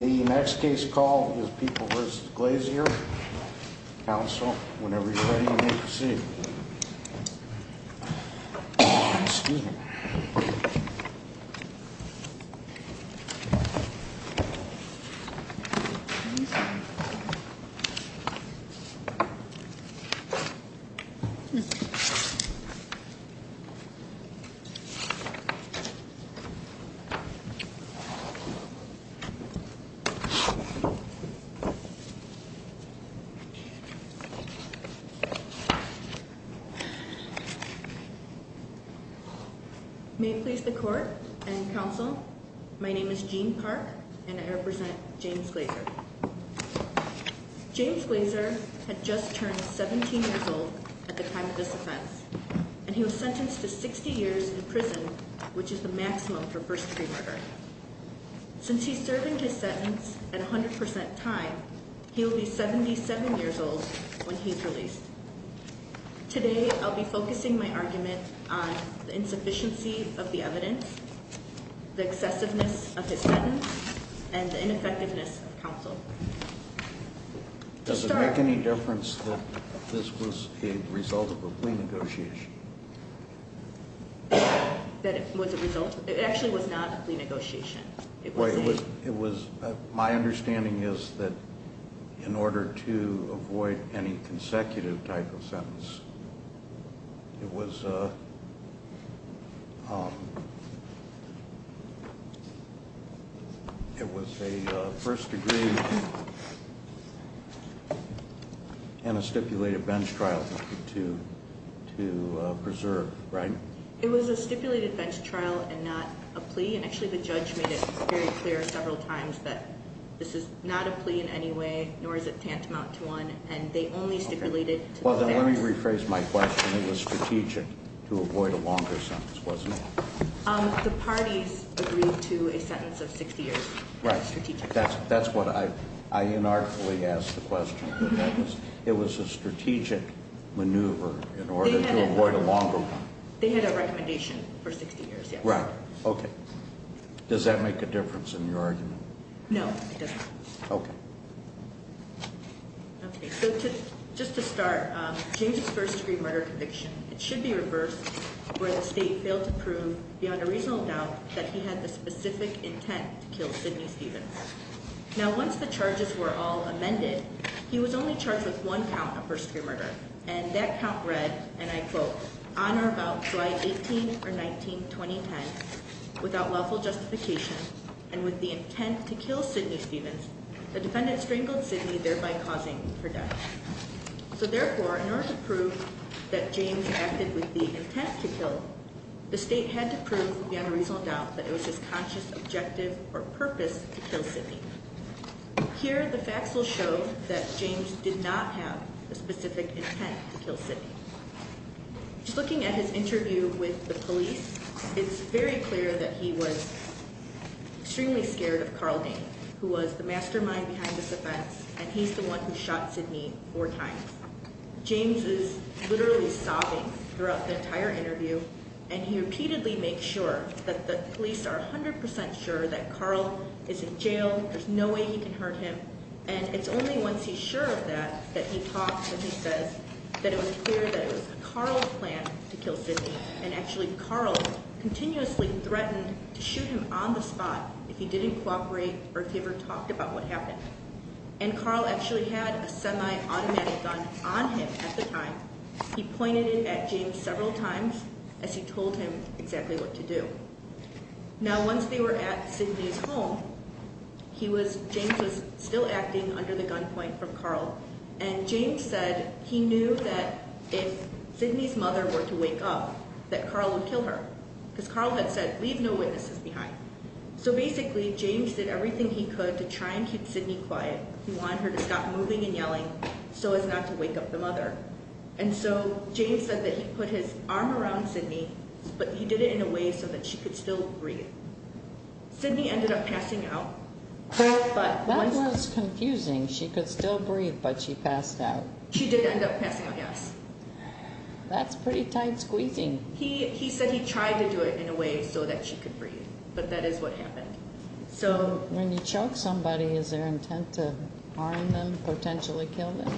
The next case call is People vs. Glazier. Counsel, whenever you're ready, you may proceed. May it please the court and counsel, my name is Jean Park and I represent James Glazier. James Glazier had just turned 17 years old at the time of this offense, and he was sentenced to 60 years in prison, which is the maximum for first degree murder. Since he's serving his sentence at 100% time, he'll be 77 years old when he's released. Today, I'll be focusing my argument on the insufficiency of the evidence, the excessiveness of his sentence, and the ineffectiveness of counsel. Does it make any difference that this was a result of a plea negotiation? That it was a result? It actually was not a plea negotiation. My understanding is that in order to avoid any consecutive type of sentence, it was a first degree and a stipulated bench trial to preserve, right? It was a stipulated bench trial and not a plea, and actually the judge made it very clear several times that this is not a plea in any way, nor is it tantamount to one, and they only stipulated... Let me rephrase my question. It was strategic to avoid a longer sentence, wasn't it? The parties agreed to a sentence of 60 years. Right. That's what I unarticulately asked the question. It was a strategic maneuver in order to avoid a longer sentence. They had a recommendation for 60 years, yes. Right. Okay. Does that make a difference in your argument? No, it doesn't. Okay. Okay, so just to start, James's first degree murder conviction, it should be reversed where the state failed to prove beyond a reasonable doubt that he had the specific intent to kill Sidney Stevens. Now, once the charges were all amended, he was only charged with one count of first degree murder, and that count read, and I quote, on or about July 18 or 19, 2010, without lawful justification and with the intent to kill Sidney Stevens, the defendant strangled Sidney, thereby causing her death. So therefore, in order to prove that James acted with the intent to kill, the state had to prove beyond a reasonable doubt that it was his conscious objective or purpose to kill Sidney. Here, the facts will show that James did not have a specific intent to kill Sidney. Just looking at his interview with the police, it's very clear that he was extremely scared of Carl Dane, who was the mastermind behind this offense, and he's the one who shot Sidney four times. James is literally sobbing throughout the entire interview, and he repeatedly makes sure that the police are 100% sure that Carl is in jail, there's no way he can hurt him, and it's only once he's sure of that that he talks and he says that it was clear that it was Carl's plan to kill Sidney, and actually Carl continuously threatened to shoot him on the spot if he didn't cooperate or if he ever talked about what happened, and Carl actually had a semi-automatic gun on him at the time. He pointed it at James several times as he told him exactly what to do. Now, once they were at Sidney's home, James was still acting under the gunpoint from Carl, and James said he knew that if Sidney's mother were to wake up, that Carl would kill her, because Carl had said, leave no witnesses behind. So basically, James did everything he could to try and keep Sidney quiet. He wanted her to stop moving and yelling so as not to wake up the mother, and so James said that he put his arm around Sidney, but he did it in a way so that she could still breathe. Sidney ended up passing out. That was confusing. She could still breathe, but she passed out. She did end up passing out, yes. That's pretty tight squeezing. He said he tried to do it in a way so that she could breathe, but that is what happened. When you choke somebody, is there intent to harm them, potentially kill them?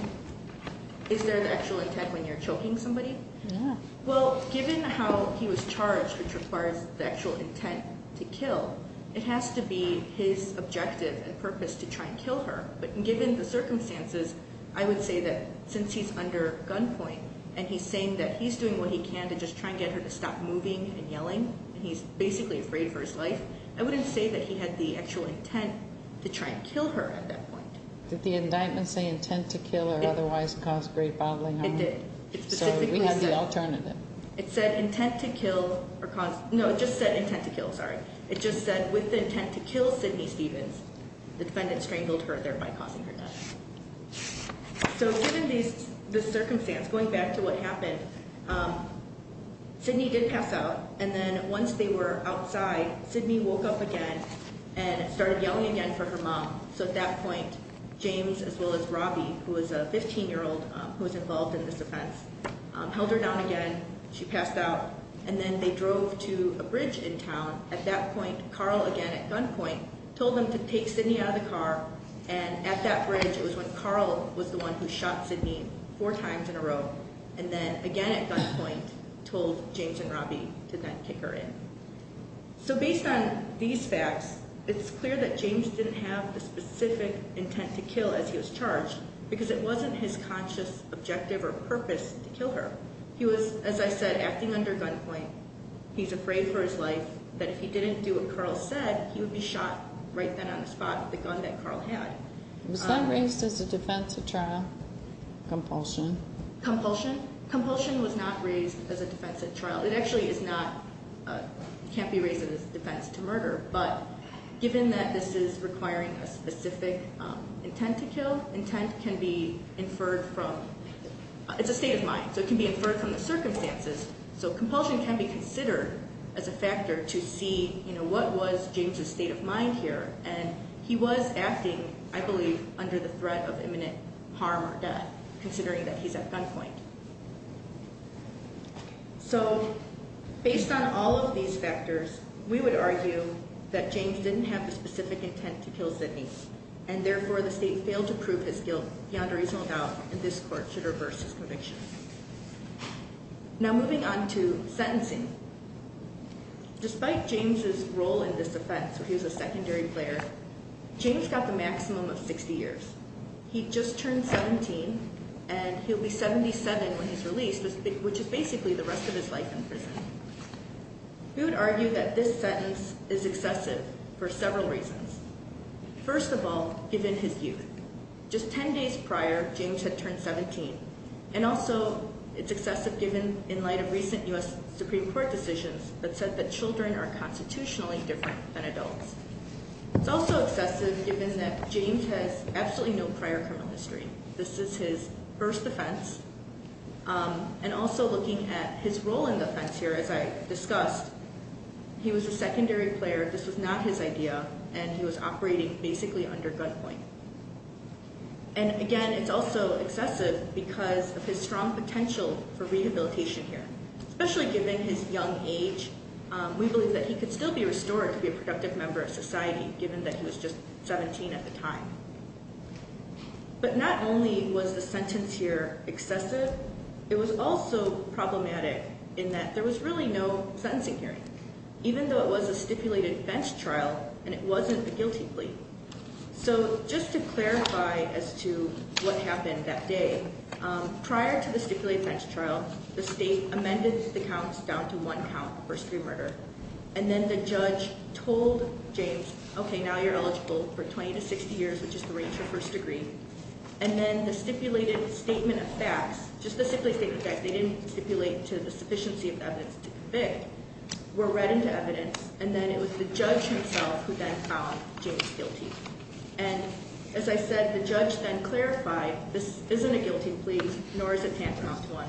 Is there the actual intent when you're choking somebody? Yeah. Well, given how he was charged, which requires the actual intent to kill, it has to be his objective and purpose to try and kill her, but given the circumstances, I would say that since he's under gunpoint, and he's saying that he's doing what he can to just try and get her to stop moving and yelling, and he's basically afraid for his life, I wouldn't say that he had the actual intent to try and kill her at that point. Did the indictment say intent to kill or otherwise cause great bodily harm? It did. It specifically said. So we have the alternative. It said intent to kill or cause – no, it just said intent to kill, sorry. It just said with the intent to kill Sidney Stevens, the defendant strangled her, thereby causing her death. So given the circumstance, going back to what happened, Sidney did pass out, and then once they were outside, Sidney woke up again and started yelling again for her mom. So at that point, James as well as Robbie, who was a 15-year-old who was involved in this offense, held her down again. She passed out, and then they drove to a bridge in town. At that point, Carl, again at gunpoint, told them to take Sidney out of the car, and at that bridge it was when Carl was the one who shot Sidney four times in a row, and then again at gunpoint told James and Robbie to then kick her in. So based on these facts, it's clear that James didn't have the specific intent to kill as he was charged because it wasn't his conscious objective or purpose to kill her. He was, as I said, acting under gunpoint. He's afraid for his life that if he didn't do what Carl said, he would be shot right then on the spot with the gun that Carl had. Was that raised as a defensive trial, compulsion? Compulsion? Compulsion was not raised as a defensive trial. It actually is not, can't be raised as a defense to murder, but given that this is requiring a specific intent to kill, intent can be inferred from, it's a state of mind, so it can be inferred from the circumstances. So compulsion can be considered as a factor to see what was James' state of mind here, and he was acting, I believe, under the threat of imminent harm or death, considering that he's at gunpoint. So based on all of these factors, we would argue that James didn't have the specific intent to kill Sidney, and therefore the state failed to prove his guilt beyond a reasonable doubt, and this court should reverse his conviction. Now moving on to sentencing. Despite James' role in this offense, where he was a secondary player, James got the maximum of 60 years. He just turned 17, and he'll be 77 when he's released, which is basically the rest of his life in prison. We would argue that this sentence is excessive for several reasons. First of all, given his youth. Just 10 days prior, James had turned 17, and also it's excessive given, in light of recent U.S. Supreme Court decisions, that said that children are constitutionally different than adults. It's also excessive given that James has absolutely no prior criminal history. This is his first offense. And also looking at his role in the offense here, as I discussed, he was a secondary player. This was not his idea, and he was operating basically under gunpoint. And again, it's also excessive because of his strong potential for rehabilitation here, especially given his young age. We believe that he could still be restored to be a productive member of society, given that he was just 17 at the time. But not only was the sentence here excessive, it was also problematic in that there was really no sentencing hearing, even though it was a stipulated fence trial, and it wasn't a guilty plea. So just to clarify as to what happened that day, prior to the stipulated fence trial, the state amended the counts down to one count, first degree murder. And then the judge told James, okay, now you're eligible for 20 to 60 years, which is the range of first degree. And then the stipulated statement of facts, just the stipulated statement of facts, they didn't stipulate to the sufficiency of the evidence to convict, were read into evidence, and then it was the judge himself who then found James guilty. And as I said, the judge then clarified, this isn't a guilty plea, nor is it tantamount to one.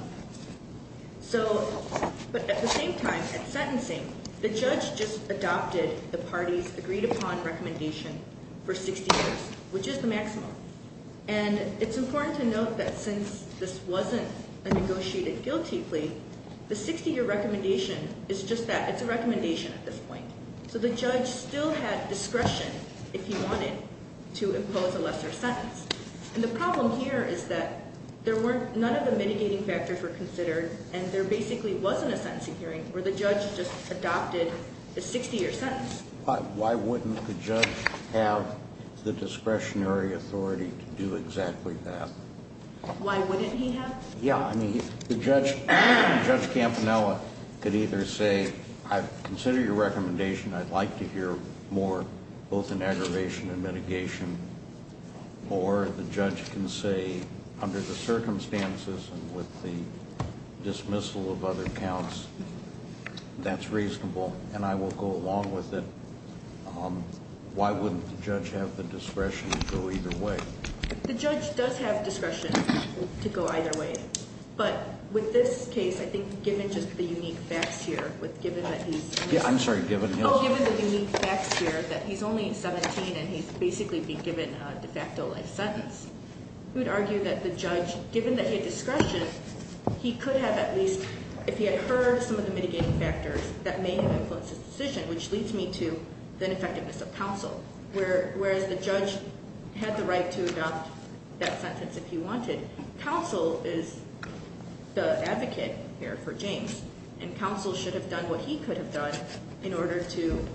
But at the same time, at sentencing, the judge just adopted the party's agreed upon recommendation for 60 years, which is the maximum. And it's important to note that since this wasn't a negotiated guilty plea, the 60-year recommendation is just that. It's a recommendation at this point. So the judge still had discretion, if he wanted, to impose a lesser sentence. And the problem here is that none of the mitigating factors were considered, and there basically wasn't a sentencing hearing where the judge just adopted the 60-year sentence. Why wouldn't the judge have the discretionary authority to do exactly that? Why wouldn't he have? Yeah, I mean, the judge, Judge Campanella, could either say, consider your recommendation. I'd like to hear more, both in aggravation and mitigation. Or the judge can say, under the circumstances and with the dismissal of other counts, that's reasonable, and I will go along with it. Why wouldn't the judge have the discretion to go either way? The judge does have discretion to go either way. But with this case, I think given just the unique facts here, given that he's only 17 and he's basically been given a de facto life sentence, we would argue that the judge, given that he had discretion, he could have at least, if he had heard some of the mitigating factors that may have influenced his decision, which leads me to the ineffectiveness of counsel. Whereas the judge had the right to adopt that sentence if he wanted. Counsel is the advocate here for James, and counsel should have done what he could have done in order to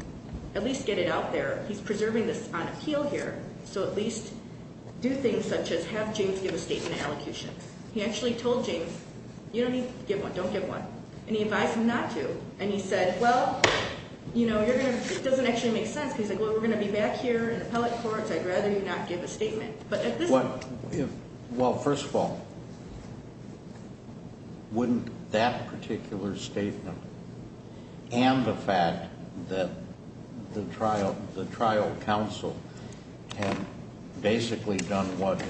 at least get it out there. He's preserving this on appeal here, so at least do things such as have James give a statement of allocutions. He actually told James, you don't need to give one, don't give one, and he advised him not to. And he said, well, it doesn't actually make sense because we're going to be back here in appellate courts. I'd rather you not give a statement. Well, first of all, wouldn't that particular statement and the fact that the trial counsel had basically done what,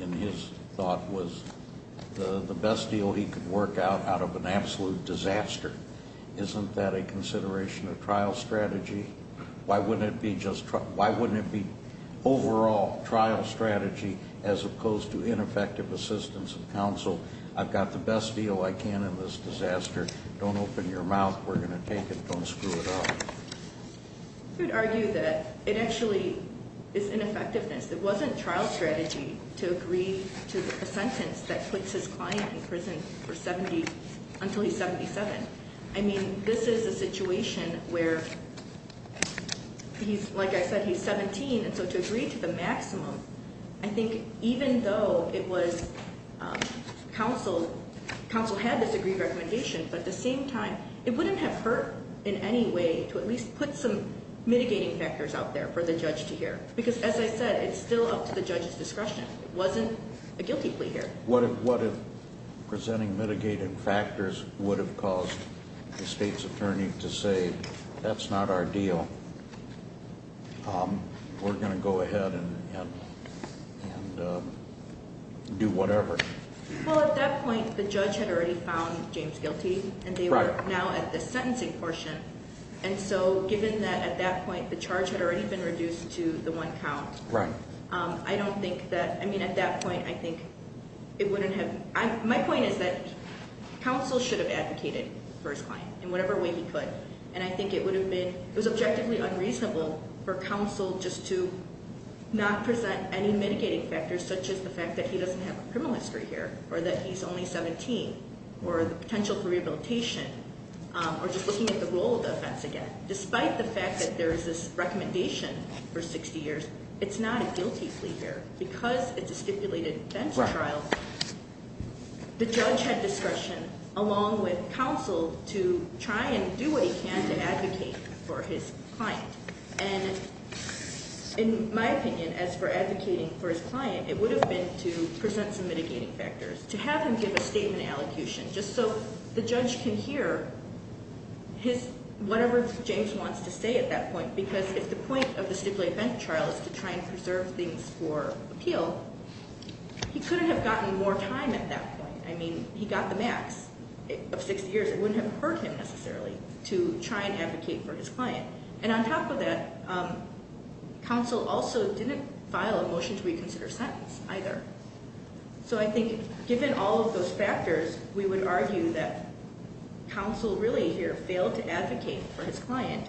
in his thought, was the best deal he could work out out of an absolute disaster, isn't that a consideration of trial strategy? Why wouldn't it be overall trial strategy as opposed to ineffective assistance of counsel? I've got the best deal I can in this disaster. Don't open your mouth. We're going to take it. Don't screw it up. I would argue that it actually is ineffectiveness. It wasn't trial strategy to agree to the sentence that puts his client in prison until he's 77. I mean, this is a situation where he's, like I said, he's 17, and so to agree to the maximum, I think even though it was counsel, counsel had this agreed recommendation, but at the same time, it wouldn't have hurt in any way to at least put some mitigating factors out there for the judge to hear. Because, as I said, it's still up to the judge's discretion. It wasn't a guilty plea here. What if presenting mitigating factors would have caused the state's attorney to say, that's not our deal, we're going to go ahead and do whatever? Well, at that point, the judge had already found James guilty, and they were now at the sentencing portion. And so given that at that point the charge had already been reduced to the one count, I don't think that, I mean, at that point, I think it wouldn't have, my point is that counsel should have advocated for his client in whatever way he could. And I think it would have been, it was objectively unreasonable for counsel just to not present any mitigating factors, such as the fact that he doesn't have a criminal history here, or that he's only 17, or the potential for rehabilitation, or just looking at the role of the offense again. Despite the fact that there is this recommendation for 60 years, it's not a guilty plea here, because it's a stipulated bench trial. The judge had discretion, along with counsel, to try and do what he can to advocate for his client. And in my opinion, as for advocating for his client, it would have been to present some mitigating factors, to have him give a statement of allocution, just so the judge can hear his, whatever James wants to say at that point. Because if the point of the stipulated bench trial is to try and preserve things for appeal, he couldn't have gotten more time at that point. I mean, he got the max of 60 years. It wouldn't have hurt him, necessarily, to try and advocate for his client. And on top of that, counsel also didn't file a motion to reconsider sentence, either. So I think, given all of those factors, we would argue that counsel, really, here, failed to advocate for his client,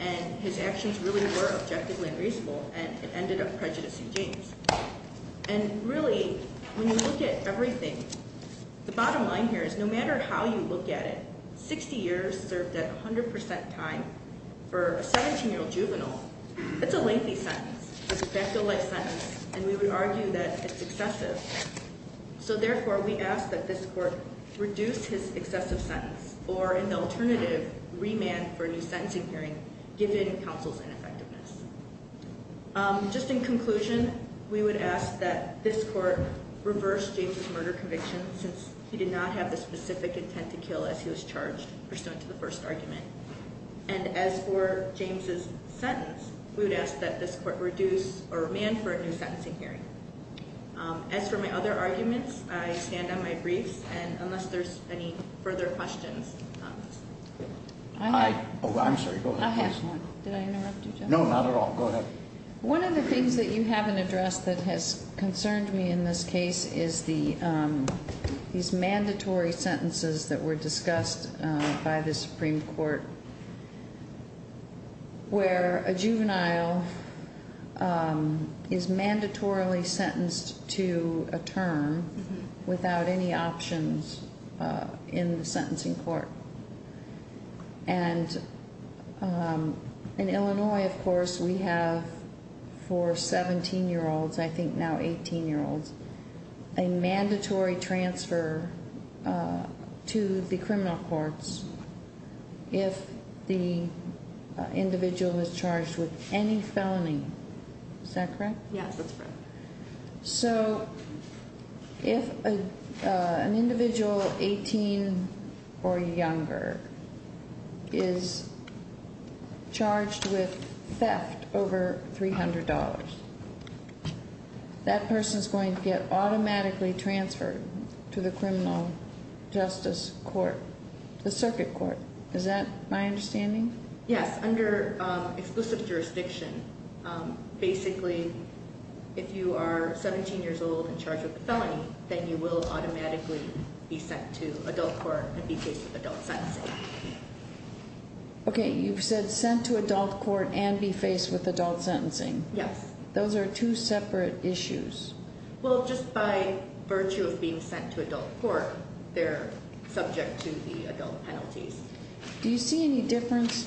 and his actions really were objectively unreasonable, and it ended up prejudicing James. And really, when you look at everything, the bottom line here is no matter how you look at it, 60 years served at 100% time for a 17-year-old juvenile, it's a lengthy sentence. It's an effective life sentence, and we would argue that it's excessive. So therefore, we ask that this court reduce his excessive sentence, or in the alternative, remand for a new sentencing hearing, given counsel's ineffectiveness. Just in conclusion, we would ask that this court reverse James' murder conviction, since he did not have the specific intent to kill as he was charged, pursuant to the first argument. And as for James' sentence, we would ask that this court reduce or remand for a new sentencing hearing. As for my other arguments, I stand on my briefs, and unless there's any further questions. I have. I'm sorry, go ahead. Did I interrupt you, Judge? No, not at all. Go ahead. One of the things that you haven't addressed that has concerned me in this case is these mandatory sentences that were discussed by the Supreme Court, where a juvenile is mandatorily sentenced to a term without any options in the sentencing court. And in Illinois, of course, we have for 17-year-olds, I think now 18-year-olds, a mandatory transfer to the criminal courts if the individual is charged with any felony. Is that correct? Yes, that's correct. So if an individual 18 or younger is charged with theft over $300, that person is going to get automatically transferred to the criminal justice court, the circuit court. Is that my understanding? Yes, under exclusive jurisdiction. Basically, if you are 17 years old and charged with a felony, then you will automatically be sent to adult court and be faced with adult sentencing. Okay, you've said sent to adult court and be faced with adult sentencing. Yes. Those are two separate issues. Well, just by virtue of being sent to adult court, they're subject to the adult penalties. Do you see any difference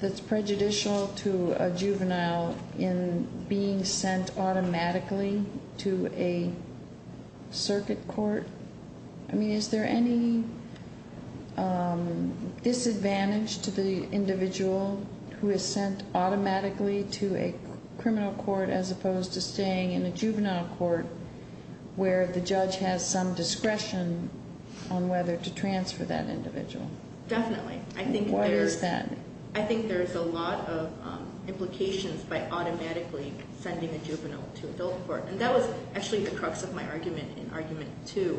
that's prejudicial to a juvenile in being sent automatically to a circuit court? I mean, is there any disadvantage to the individual who is sent automatically to a criminal court as opposed to staying in a juvenile court where the judge has some discretion on whether to transfer that individual? Definitely. Why is that? I think there's a lot of implications by automatically sending a juvenile to adult court. And that was actually the crux of my argument in argument two,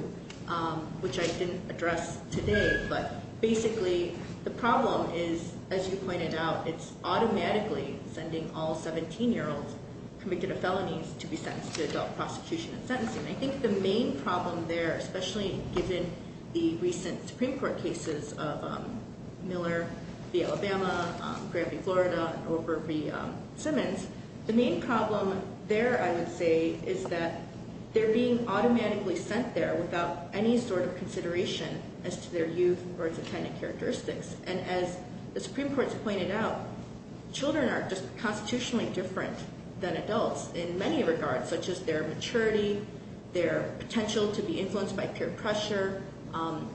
which I didn't address today. But basically, the problem is, as you pointed out, it's automatically sending all 17-year-olds convicted of felonies to be sentenced to adult prosecution and sentencing. And I think the main problem there, especially given the recent Supreme Court cases of Miller v. Alabama, Granby, Florida, and Overby v. Simmons, the main problem there, I would say, is that they're being automatically sent there without any sort of consideration as to their youth or its attendant characteristics. And as the Supreme Court's pointed out, children are just constitutionally different than adults in many regards, such as their maturity, their potential to be influenced by peer pressure,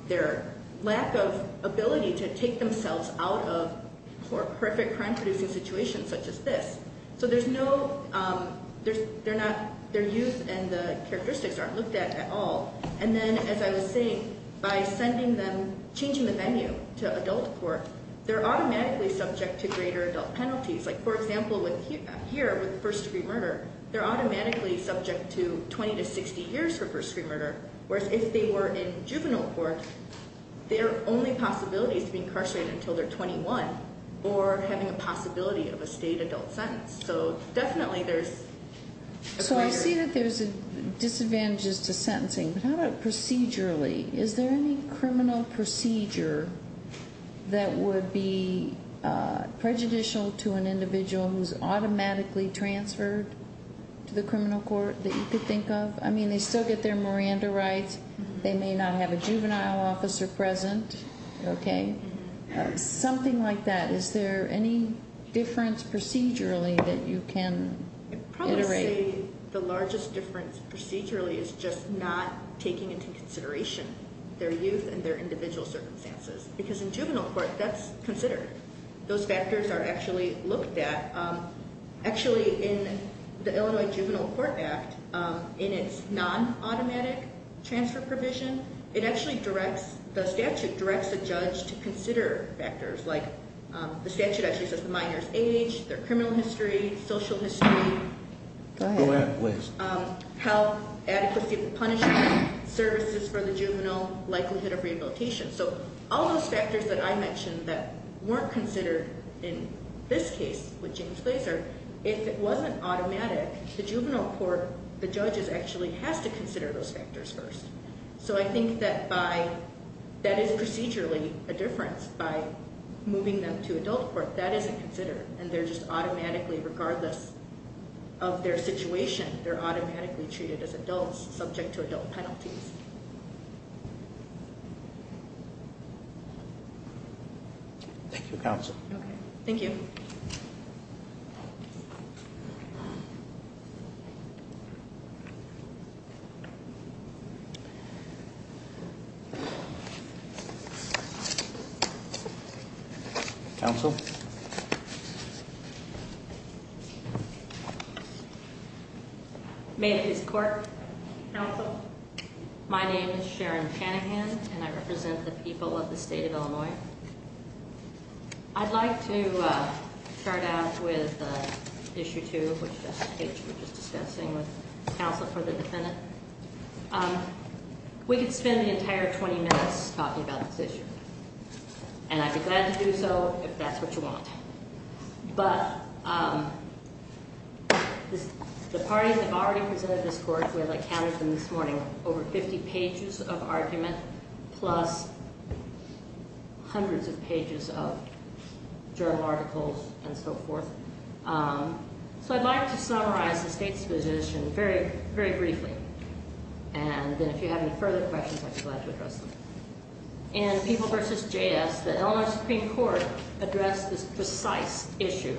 their lack of ability to take themselves out of horrific crime-producing situations such as this. So their youth and the characteristics aren't looked at at all. And then, as I was saying, by changing the venue to adult court, they're automatically subject to greater adult penalties. Like, for example, here with first-degree murder, they're automatically subject to 20 to 60 years for first-degree murder, whereas if they were in juvenile court, their only possibility is to be incarcerated until they're 21 or having a possibility of a state adult sentence. So definitely there's a greater... So I see that there's disadvantages to sentencing, but how about procedurally? Is there any criminal procedure that would be prejudicial to an individual who's automatically transferred to the criminal court that you could think of? I mean, they still get their Miranda rights. They may not have a juvenile officer present. Okay? Something like that. Is there any difference procedurally that you can iterate? I'd probably say the largest difference procedurally is just not taking into consideration their youth and their individual circumstances, because in juvenile court, that's considered. Those factors are actually looked at. Actually, in the Illinois Juvenile Court Act, in its non-automatic transfer provision, it actually directs...the statute directs a judge to consider factors like... Go ahead, please. ...health, adequacy of the punishment, services for the juvenile, likelihood of rehabilitation. So all those factors that I mentioned that weren't considered in this case with James Glaser, if it wasn't automatic, the juvenile court, the judges actually has to consider those factors first. So I think that by...that is procedurally a difference. By moving them to adult court, that isn't considered, and they're just automatically, regardless of their situation, they're automatically treated as adults subject to adult penalties. Thank you, counsel. Okay. Thank you. Thank you. Counsel? May I please court? Counsel? My name is Sharon Panaghan, and I represent the people of the state of Illinois. I'd like to start out with Issue 2, which we were just discussing with counsel for the defendant. We could spend the entire 20 minutes talking about this issue, and I'd be glad to do so if that's what you want. But the parties have already presented this court. We have, I counted them this morning, over 50 pages of argument, plus hundreds of pages of journal articles and so forth. So I'd like to summarize the state's position very briefly, and then if you have any further questions, I'd be glad to address them. In People v. JS, the Illinois Supreme Court addressed this precise issue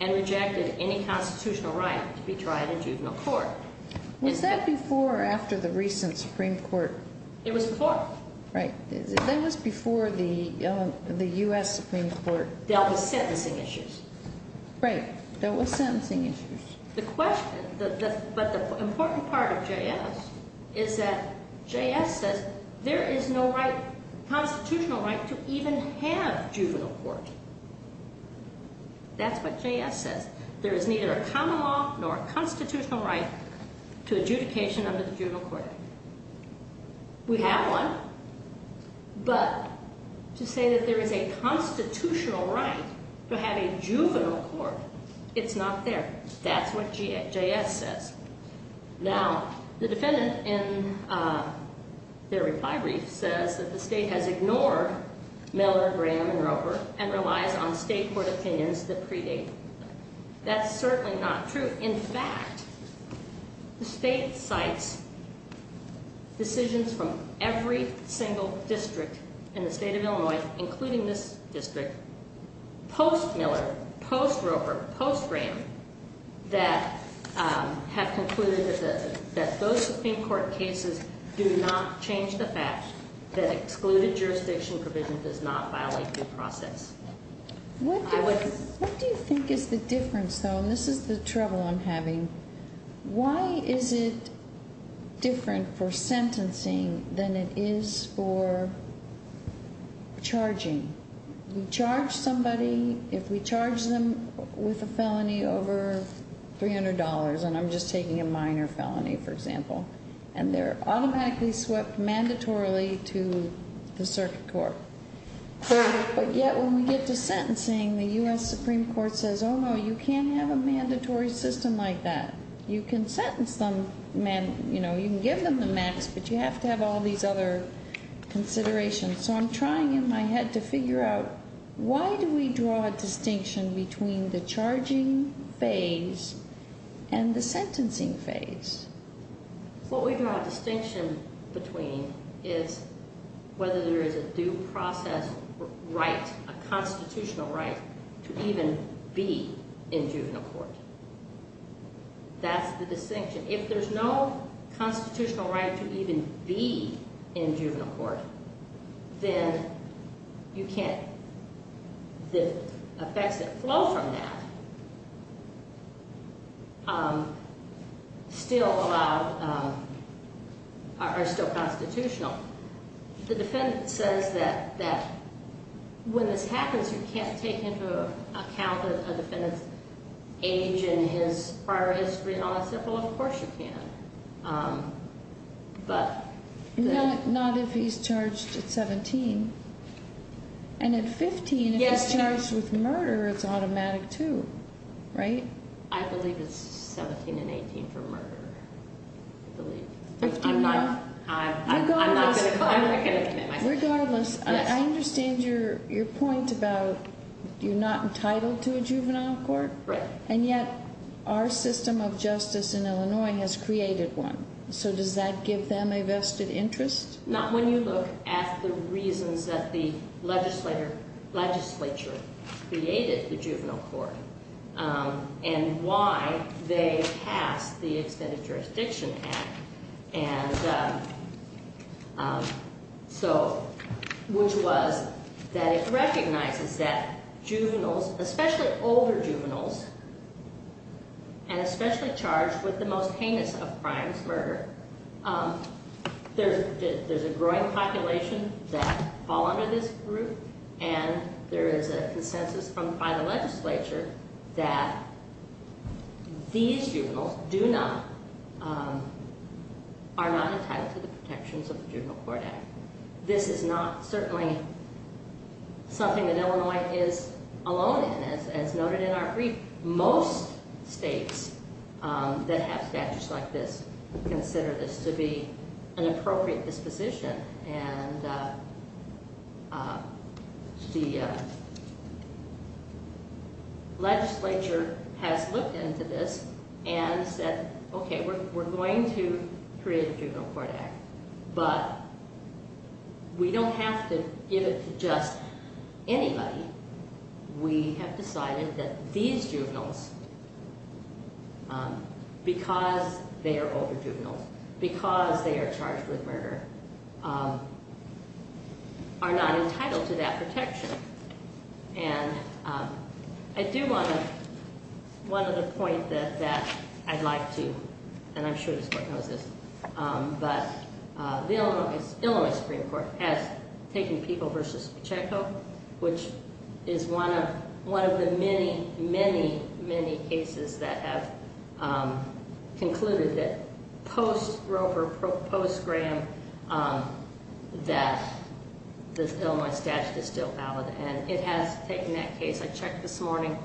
and rejected any constitutional right to be tried in juvenile court. Was that before or after the recent Supreme Court? It was before. Right. That was before the U.S. Supreme Court dealt with sentencing issues. Right. There was sentencing issues. The question, but the important part of JS is that JS says there is no right, to even have juvenile court. That's what JS says. There is neither a common law nor a constitutional right to adjudication under the juvenile court. We have one, but to say that there is a constitutional right to have a juvenile court, it's not there. That's what JS says. Now, the defendant in their reply brief says that the state has ignored Miller, Graham, and Roper and relies on state court opinions that predate them. That's certainly not true. In fact, the state cites decisions from every single district in the state of Illinois, including this district, post Miller, post Roper, post Graham, that have concluded that those Supreme Court cases do not change the fact that excluded jurisdiction provision does not violate due process. What do you think is the difference, though? And this is the trouble I'm having. Why is it different for sentencing than it is for charging? We charge somebody, if we charge them with a felony over $300, and I'm just taking a minor felony, for example, and they're automatically swept mandatorily to the circuit court. But yet when we get to sentencing, the U.S. Supreme Court says, oh, no, you can't have a mandatory system like that. You can sentence them, you know, you can give them the max, but you have to have all these other considerations. So I'm trying in my head to figure out why do we draw a distinction between the charging phase and the sentencing phase? What we draw a distinction between is whether there is a due process right, a constitutional right, to even be in juvenile court. That's the distinction. If there's no constitutional right to even be in juvenile court, then you can't. The effects that flow from that still allow or are still constitutional. The defendant says that when this happens, you can't take into account the defendant's age and his prior history, and I said, well, of course you can. Not if he's charged at 17. And at 15, if he's charged with murder, it's automatic too, right? I believe it's 17 and 18 for murder. I'm not going to commit myself. Regardless, I understand your point about you're not entitled to a juvenile court, and yet our system of justice in Illinois has created one. So does that give them a vested interest? Not when you look at the reasons that the legislature created the juvenile court and why they passed the Extended Jurisdiction Act, which was that it recognizes that juveniles, especially older juveniles, and especially charged with the most heinous of crimes, murder, there's a growing population that fall under this group, and there is a consensus by the legislature that these juveniles are not entitled to the protections of the Juvenile Court Act. This is not certainly something that Illinois is alone in, as noted in our brief. Most states that have statutes like this consider this to be an appropriate disposition, and the legislature has looked into this and said, okay, we're going to create the Juvenile Court Act, but we don't have to give it to just anybody. We have decided that these juveniles, because they are older juveniles, because they are charged with murder, are not entitled to that protection. And I do want to, one other point that I'd like to, and I'm sure this court knows this, but the Illinois Supreme Court has taken People v. Pacheco, which is one of the many, many, many cases that have concluded that post-Grover, post-Graham, that the Illinois statute is still valid, and it has taken that case. I checked this morning.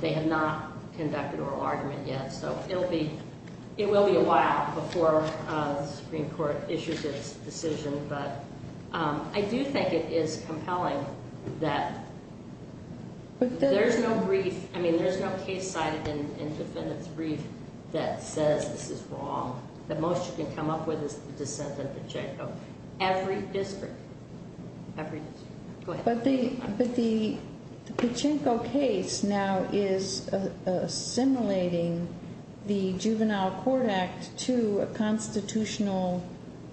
They have not conducted oral argument yet, so it will be a while before the Supreme Court issues its decision, but I do think it is compelling that there's no brief, I mean, there's no case cited in defendant's brief that says this is wrong. The most you can come up with is the dissent of Pacheco. Every district, every district. Go ahead. But the Pacheco case now is assimilating the Juvenile Court Act to a constitutional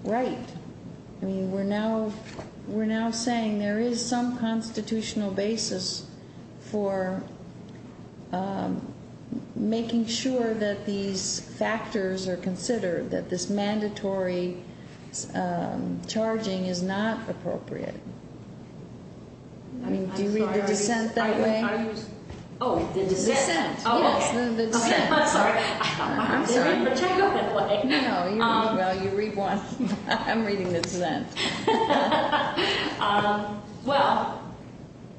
right. I mean, we're now saying there is some constitutional basis for making sure that these factors are considered, that this mandatory charging is not appropriate. Do you read the dissent that way? Oh, the dissent? Yes, the dissent. I'm sorry. I'm sorry. I read the Pacheco that way. No, you read, well, you read one. I'm reading the dissent. Well,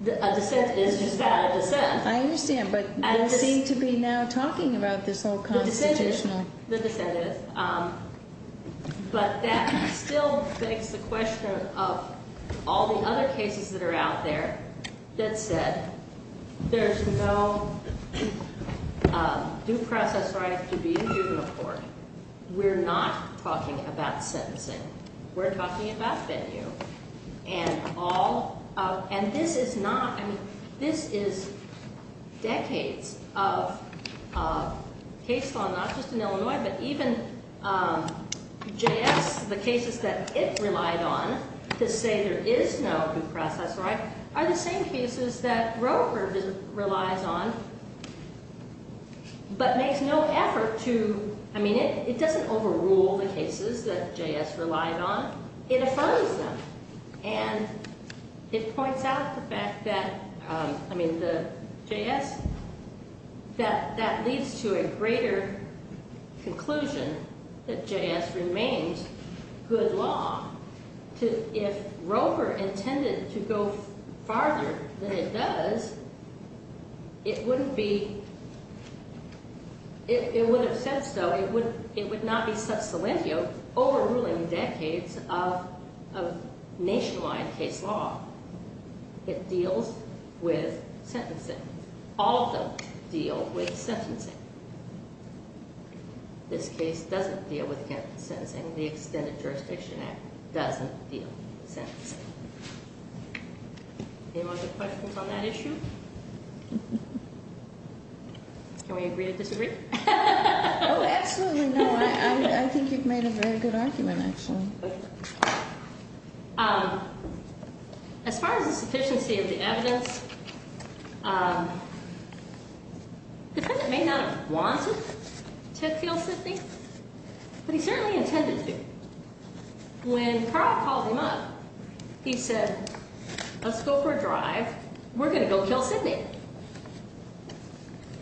a dissent is just not a dissent. I understand, but you seem to be now talking about this whole constitutional. The dissent is, but that still begs the question of all the other cases that are out there that said there's no due process right to be in juvenile court. We're not talking about sentencing. We're talking about venue. And all of, and this is not, I mean, this is decades of case law, not just in Illinois, but even J.S., the cases that it relied on to say there is no due process right are the same cases that Roper relies on, but makes no effort to, I mean, it doesn't overrule the cases that J.S. relied on. It affirms them. And it points out the fact that, I mean, the J.S., that leads to a greater conclusion that J.S. remains good law. If Roper intended to go farther than it does, it wouldn't be, it would have said so. It would not be sub silentio overruling decades of nationwide case law that deals with sentencing. All of them deal with sentencing. This case doesn't deal with sentencing. The Extended Jurisdiction Act doesn't deal with sentencing. Any more questions on that issue? Can we agree to disagree? Oh, absolutely not. I think you've made a very good argument, actually. As far as the sufficiency of the evidence, the defendant may not have wanted to kill Sidney, but he certainly intended to. When Carl called him up, he said, let's go for a drive. We're going to go kill Sidney.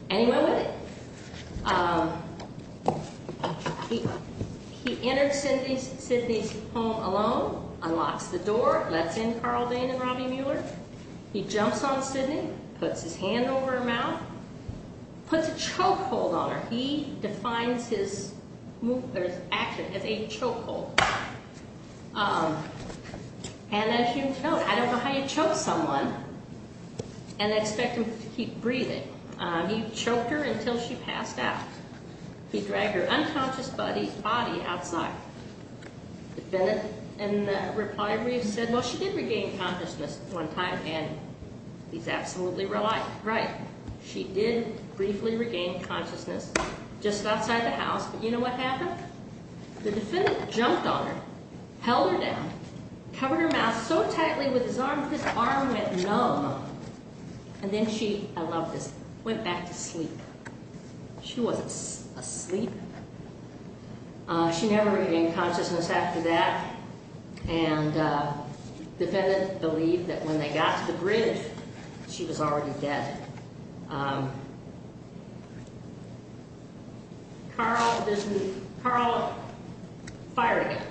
And he went with it. He entered Sidney's home alone, unlocks the door, lets in Carl Dane and Robbie Mueller. He jumps on Sidney, puts his hand over her mouth, puts a choke hold on her. He defines his action as a choke hold. And as you can tell, I don't know how you choke someone and expect them to keep breathing. He choked her until she passed out. He dragged her unconscious body outside. The defendant, in reply, said, well, she did regain consciousness one time. And he's absolutely right. She did briefly regain consciousness just outside the house. But you know what happened? The defendant jumped on her, held her down, covered her mouth so tightly with his arm, his arm went numb. And then she, I love this, went back to sleep. She wasn't asleep. She never regained consciousness after that. And the defendant believed that when they got to the bridge, she was already dead. Carl fired again.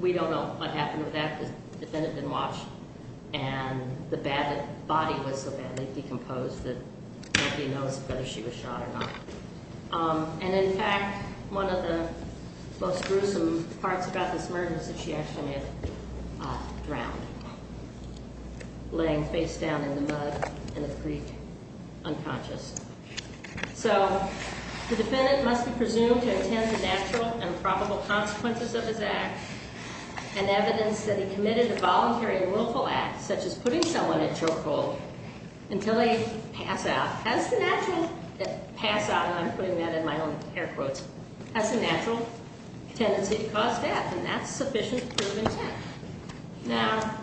We don't know what happened with that because the defendant didn't watch. And the body was so badly decomposed that nobody knows whether she was shot or not. And in fact, one of the most gruesome parts about this murder is that she actually may have drowned, laying face down in the mud in a creek, unconscious. So the defendant must be presumed to intend the natural and probable consequences of his act and evidence that he committed a voluntary and willful act, such as putting someone in a chokehold, until they pass out, pass out, and I'm putting that in my own air quotes, has a natural tendency to cause death. And that's sufficient to prove his act. Now,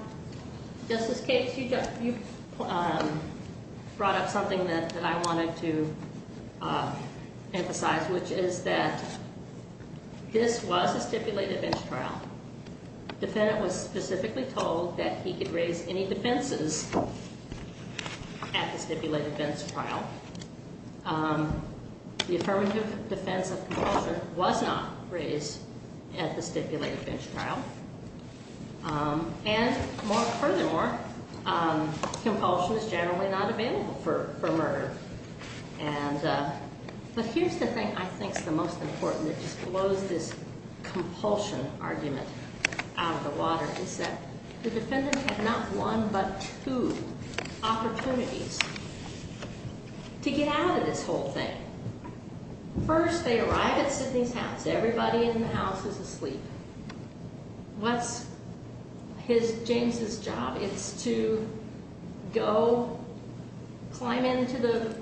Justice Cates, you brought up something that I wanted to emphasize, which is that this was a stipulated bench trial. The defendant was specifically told that he could raise any defenses at the stipulated bench trial. The affirmative defense of compulsion was not raised at the stipulated bench trial. And furthermore, compulsion is generally not available for murder. But here's the thing I think is the most important that just blows this compulsion argument out of the water, is that the defendant had not one but two opportunities to get out of this whole thing. First, they arrive at Sidney's house. Everybody in the house is asleep. What's James' job? It's to go climb into the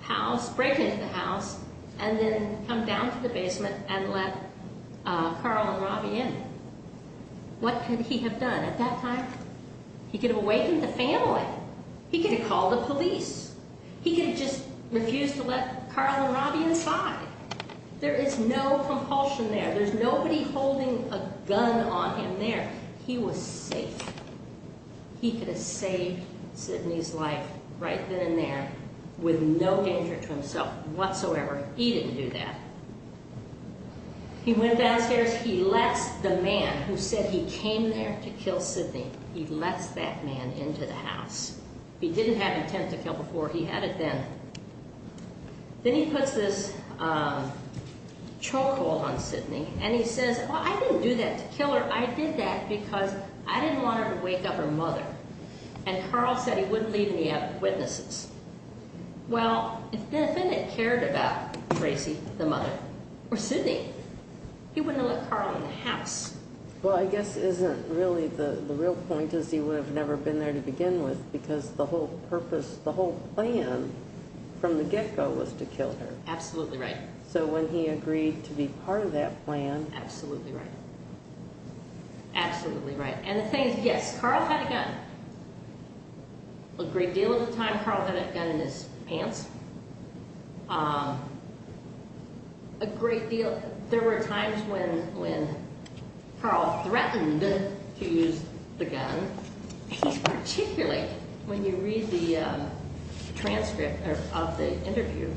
house, break into the house, and then come down to the basement and let Carl and Robbie in. What could he have done at that time? He could have awakened the family. He could have called the police. He could have just refused to let Carl and Robbie inside. There is no compulsion there. There's nobody holding a gun on him there. He was safe. He could have saved Sidney's life right then and there with no danger to himself whatsoever. He didn't do that. He went downstairs. He lets the man who said he came there to kill Sidney, he lets that man into the house. He didn't have intent to kill before. He had it then. Then he puts this chokehold on Sidney, and he says, well, I didn't do that to kill her. I did that because I didn't want her to wake up her mother. And Carl said he wouldn't leave any witnesses. Well, if the defendant cared about Tracy, the mother, or Sidney, he wouldn't have let Carl in the house. Well, I guess isn't really the real point is he would have never been there to begin with, because the whole purpose, the whole plan from the get-go was to kill her. Absolutely right. So when he agreed to be part of that plan— Absolutely right. Absolutely right. And the thing is, yes, Carl had a gun. A great deal of the time, Carl had a gun in his pants. A great deal—there were times when Carl threatened to use the gun. He particularly, when you read the transcript of the interview,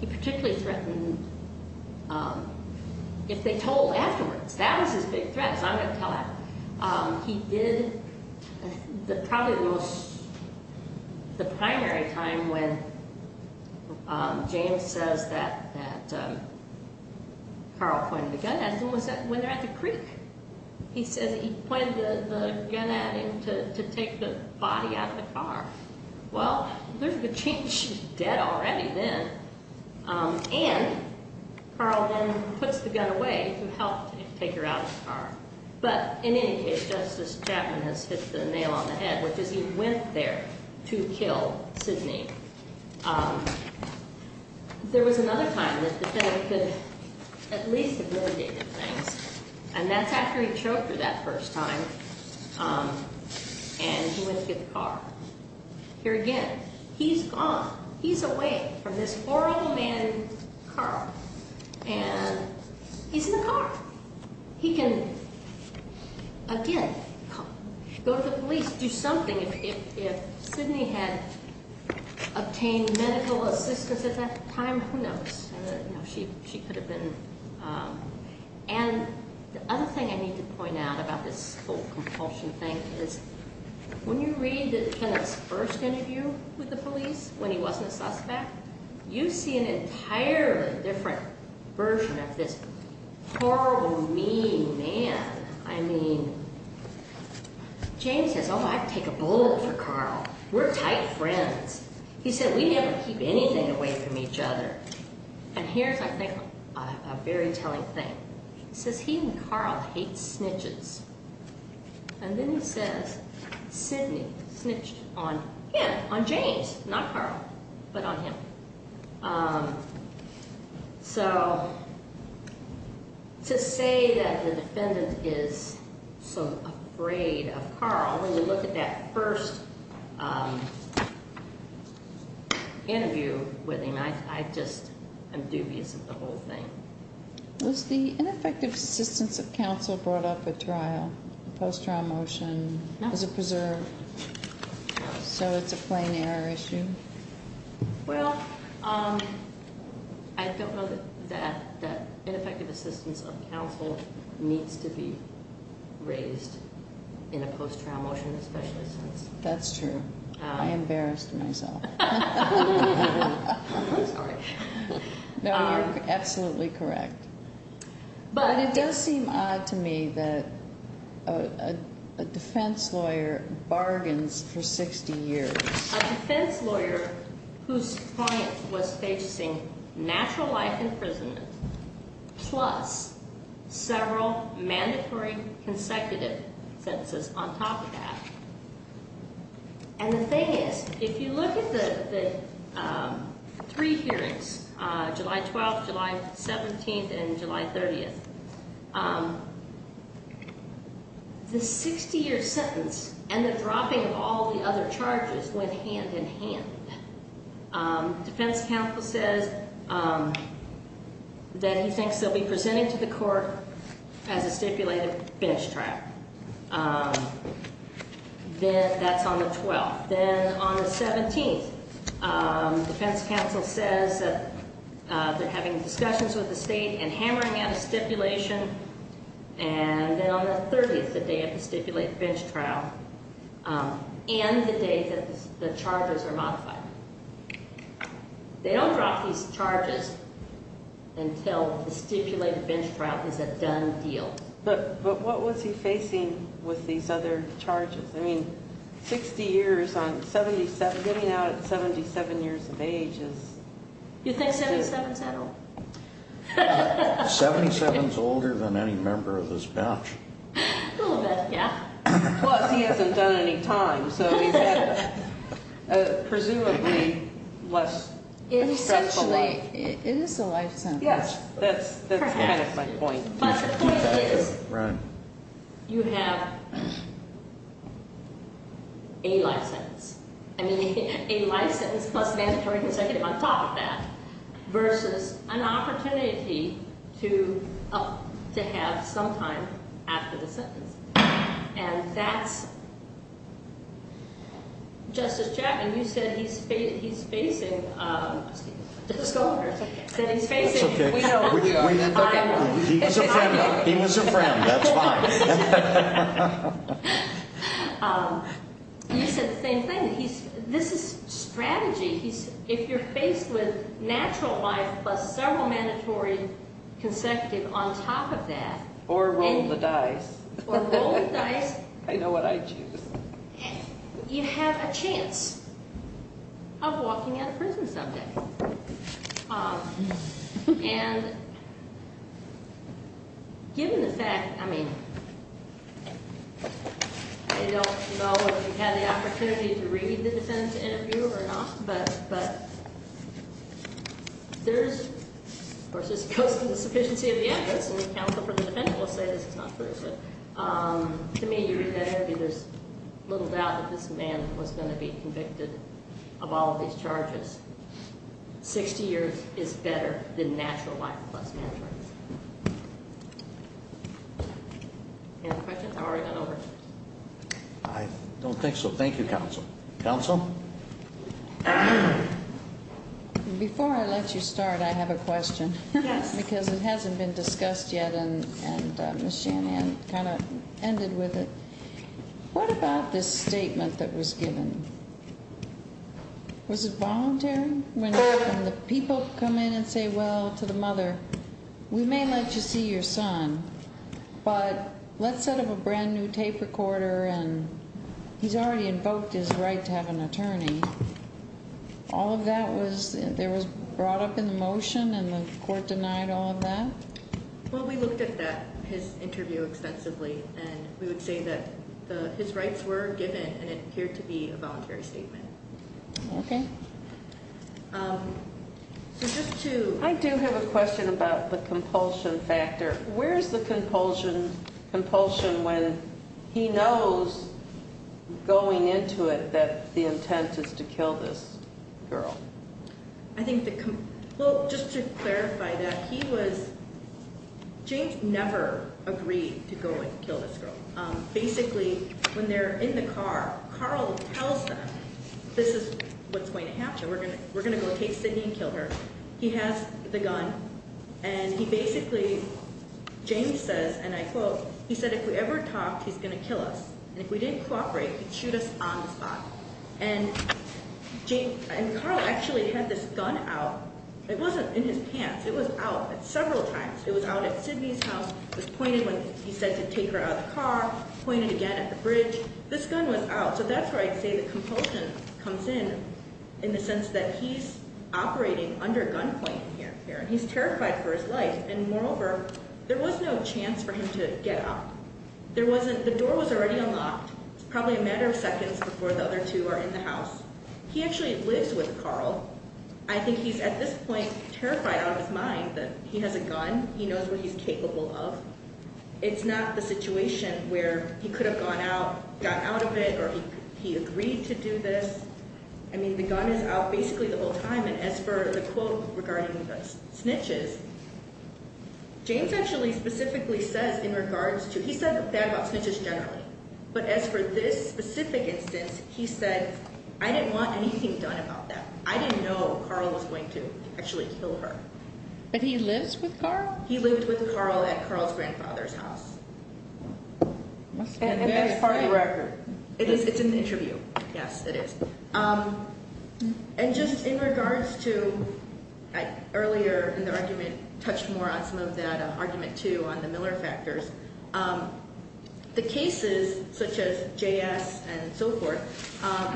he particularly threatened if they told afterwards. That was his big threat, so I'm going to tell that. He did—probably it was the primary time when James says that Carl pointed the gun at him was when they were at the creek. He says he pointed the gun at him to take the body out of the car. Well, there's a good chance she's dead already then. And Carl then puts the gun away to help take her out of the car. But in any case, Justice Chapman has hit the nail on the head, which is he went there to kill Sidney. There was another time that the defendant could at least have motivated things, and that's after he choked her that first time and he went to get the car. Here again, he's gone. He's away from this poor old man, Carl, and he's in the car. He can, again, go to the police, do something. If Sidney had obtained medical assistance at that time, who knows? She could have been— And the other thing I need to point out about this whole compulsion thing is when you read the defendant's first interview with the police when he wasn't a suspect, you see an entirely different version of this horrible, mean man. I mean, James says, oh, I'd take a bullet for Carl. We're tight friends. He said, we never keep anything away from each other. And here's, I think, a very telling thing. He says he and Carl hate snitches. And then he says Sidney snitched on him, on James, not Carl, but on him. So to say that the defendant is so afraid of Carl, when you look at that first interview with him, I just am dubious of the whole thing. Was the ineffective assistance of counsel brought up at trial, post-trial motion, as a preserve? So it's a plain error issue? Well, I don't know that ineffective assistance of counsel needs to be raised in a post-trial motion, especially since— That's true. I embarrassed myself. I'm sorry. No, you're absolutely correct. But it does seem odd to me that a defense lawyer bargains for 60 years. A defense lawyer whose point was facing natural life imprisonment plus several mandatory consecutive sentences on top of that. And the thing is, if you look at the three hearings, July 12th, July 17th, and July 30th, the 60-year sentence and the dropping of all the other charges went hand-in-hand. Defense counsel says that he thinks they'll be presenting to the court as a stipulated bench trial. That's on the 12th. Then on the 17th, defense counsel says that they're having discussions with the state and hammering out a stipulation. And then on the 30th, the day of the stipulated bench trial, and the day that the charges are modified. They don't drop these charges until the stipulated bench trial is a done deal. But what was he facing with these other charges? I mean, 60 years on 77—getting out at 77 years of age is— You think 77's that old? 77's older than any member of this bench. A little bit, yeah. Plus, he hasn't done any time, so he's had a presumably less stressful life. Essentially, it is a life sentence. Yes, that's kind of my point. But the point is, you have a life sentence. I mean, a life sentence plus a mandatory consecutive on top of that, versus an opportunity to have some time after the sentence. And that's—Justice Chapman, you said he's facing— Let's go over here for a second. That he's facing— That's okay. He was a friend. He was a friend. That's fine. You said the same thing. This is strategy. If you're faced with natural life plus several mandatory consecutive on top of that— Or roll the dice. Or roll the dice. I know what I'd choose. You have a chance of walking out of prison someday. And given the fact—I mean, I don't know if you've had the opportunity to read the defendant's interview or not, but there's— Of course, this goes to the sufficiency of the evidence, and the counsel for the defendant will say this is not true. To me, you read that interview, there's little doubt that this man was going to be convicted of all of these charges. Sixty years is better than natural life plus mandatory. Any questions? I've already gone over. I don't think so. Thank you, counsel. Counsel? Before I let you start, I have a question. Yes. Because it hasn't been discussed yet, and Ms. Shanahan kind of ended with it. What about this statement that was given? Was it voluntary? When the people come in and say, well, to the mother, we may let you see your son, but let's set up a brand-new tape recorder, and he's already invoked his right to have an attorney. All of that was brought up in the motion, and the court denied all of that? Well, we looked at his interview extensively, and we would say that his rights were given, and it appeared to be a voluntary statement. Okay. So just to— I do have a question about the compulsion factor. Where's the compulsion when he knows going into it that the intent is to kill this girl? I think the—well, just to clarify that, he was—James never agreed to go and kill this girl. Basically, when they're in the car, Carl tells them, this is what's going to happen. We're going to go take Sydney and kill her. He has the gun, and he basically—James says, and I quote, he said, if we ever talked, he's going to kill us. And if we didn't cooperate, he'd shoot us on the spot. And Carl actually had this gun out. It wasn't in his pants. It was out several times. It was out at Sydney's house. It was pointed when he said to take her out of the car, pointed again at the bridge. This gun was out. So that's where I'd say the compulsion comes in, in the sense that he's operating under gunpoint here. He's terrified for his life, and moreover, there was no chance for him to get up. There wasn't—the door was already unlocked. It's probably a matter of seconds before the other two are in the house. He actually lives with Carl. I think he's at this point terrified out of his mind that he has a gun. He knows what he's capable of. It's not the situation where he could have gone out, gotten out of it, or he agreed to do this. I mean, the gun is out basically the whole time. And as for the quote regarding the snitches, James actually specifically says in regards to—he said that about snitches generally. But as for this specific instance, he said, I didn't want anything done about that. I didn't know Carl was going to actually kill her. But he lives with Carl? He lived with Carl at Carl's grandfather's house. And that's part of the record. It's in the interview. Yes, it is. And just in regards to—earlier in the argument, touched more on some of that, argument two on the Miller factors. The cases such as J.S. and so forth,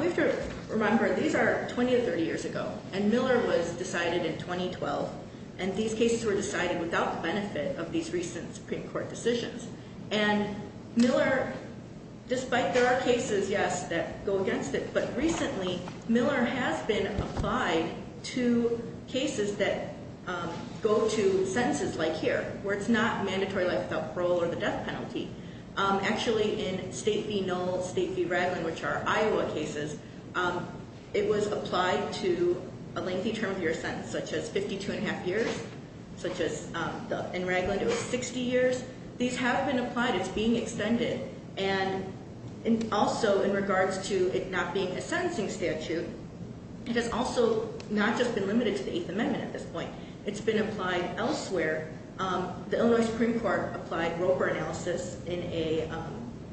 we have to remember these are 20 or 30 years ago. And Miller was decided in 2012. And these cases were decided without the benefit of these recent Supreme Court decisions. And Miller—despite there are cases, yes, that go against it. But recently, Miller has been applied to cases that go to sentences like here, where it's not mandatory life without parole or the death penalty. Actually, in State v. Knoll, State v. Ragland, which are Iowa cases, it was applied to a lengthy term of your sentence, such as 52 1⁄2 years. Such as in Ragland, it was 60 years. These have been applied. It's being extended. And also in regards to it not being a sentencing statute, it has also not just been limited to the Eighth Amendment at this point. It's been applied elsewhere. The Illinois Supreme Court applied Roper analysis in a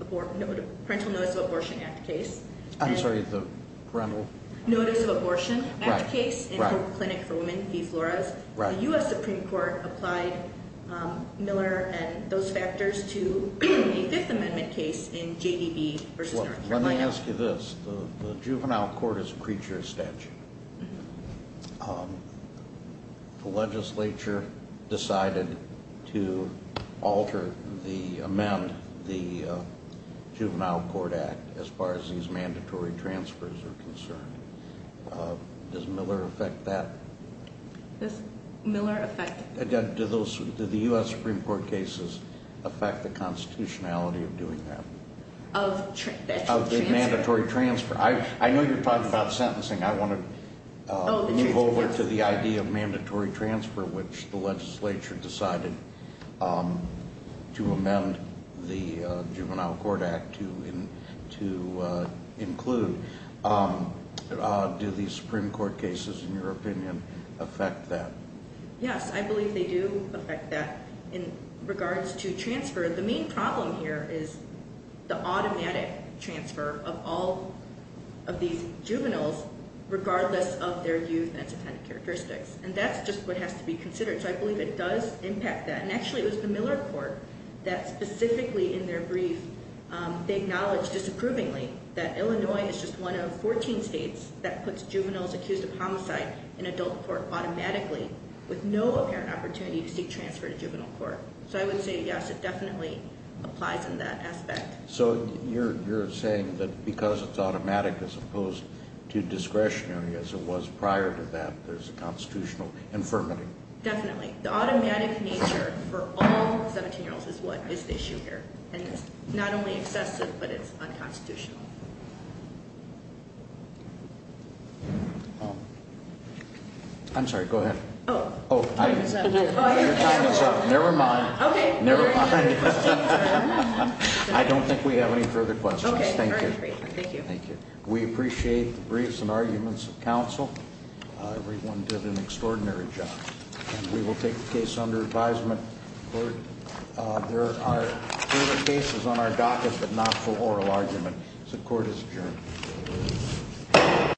Parental Notice of Abortion Act case. I'm sorry, the parental— Notice of Abortion Act case in Hope Clinic for Women v. Flores. The U.S. Supreme Court applied Miller and those factors to a Fifth Amendment case in J.D.B. v. North Carolina. Let me ask you this. The Juvenile Court is a creature of statute. The legislature decided to alter the—amend the Juvenile Court Act as far as these mandatory transfers are concerned. Does Miller affect that? Does Miller affect— Again, do the U.S. Supreme Court cases affect the constitutionality of doing that? Of the mandatory transfer. I know you're talking about sentencing. I want to move over to the idea of mandatory transfer, which the legislature decided to amend the Juvenile Court Act to include. Do these Supreme Court cases, in your opinion, affect that? Yes, I believe they do affect that. In regards to transfer, the main problem here is the automatic transfer of all of these juveniles regardless of their youth and attendant characteristics. And that's just what has to be considered. So I believe it does impact that. And actually, it was the Miller Court that specifically in their brief, they acknowledged disapprovingly that Illinois is just one of 14 states that puts juveniles accused of homicide in adult court automatically with no apparent opportunity to seek transfer to juvenile court. So I would say, yes, it definitely applies in that aspect. So you're saying that because it's automatic as opposed to discretionary as it was prior to that, there's a constitutional infirmity. Definitely. The automatic nature for all 17-year-olds is what is the issue here. And it's not only excessive, but it's unconstitutional. I'm sorry. Go ahead. Oh. Your time is up. Never mind. Okay. I don't think we have any further questions. Thank you. Thank you. We appreciate the briefs and arguments of counsel. Everyone did an extraordinary job. We will take the case under advisement. There are cases on our docket, but not for oral argument. The court is adjourned.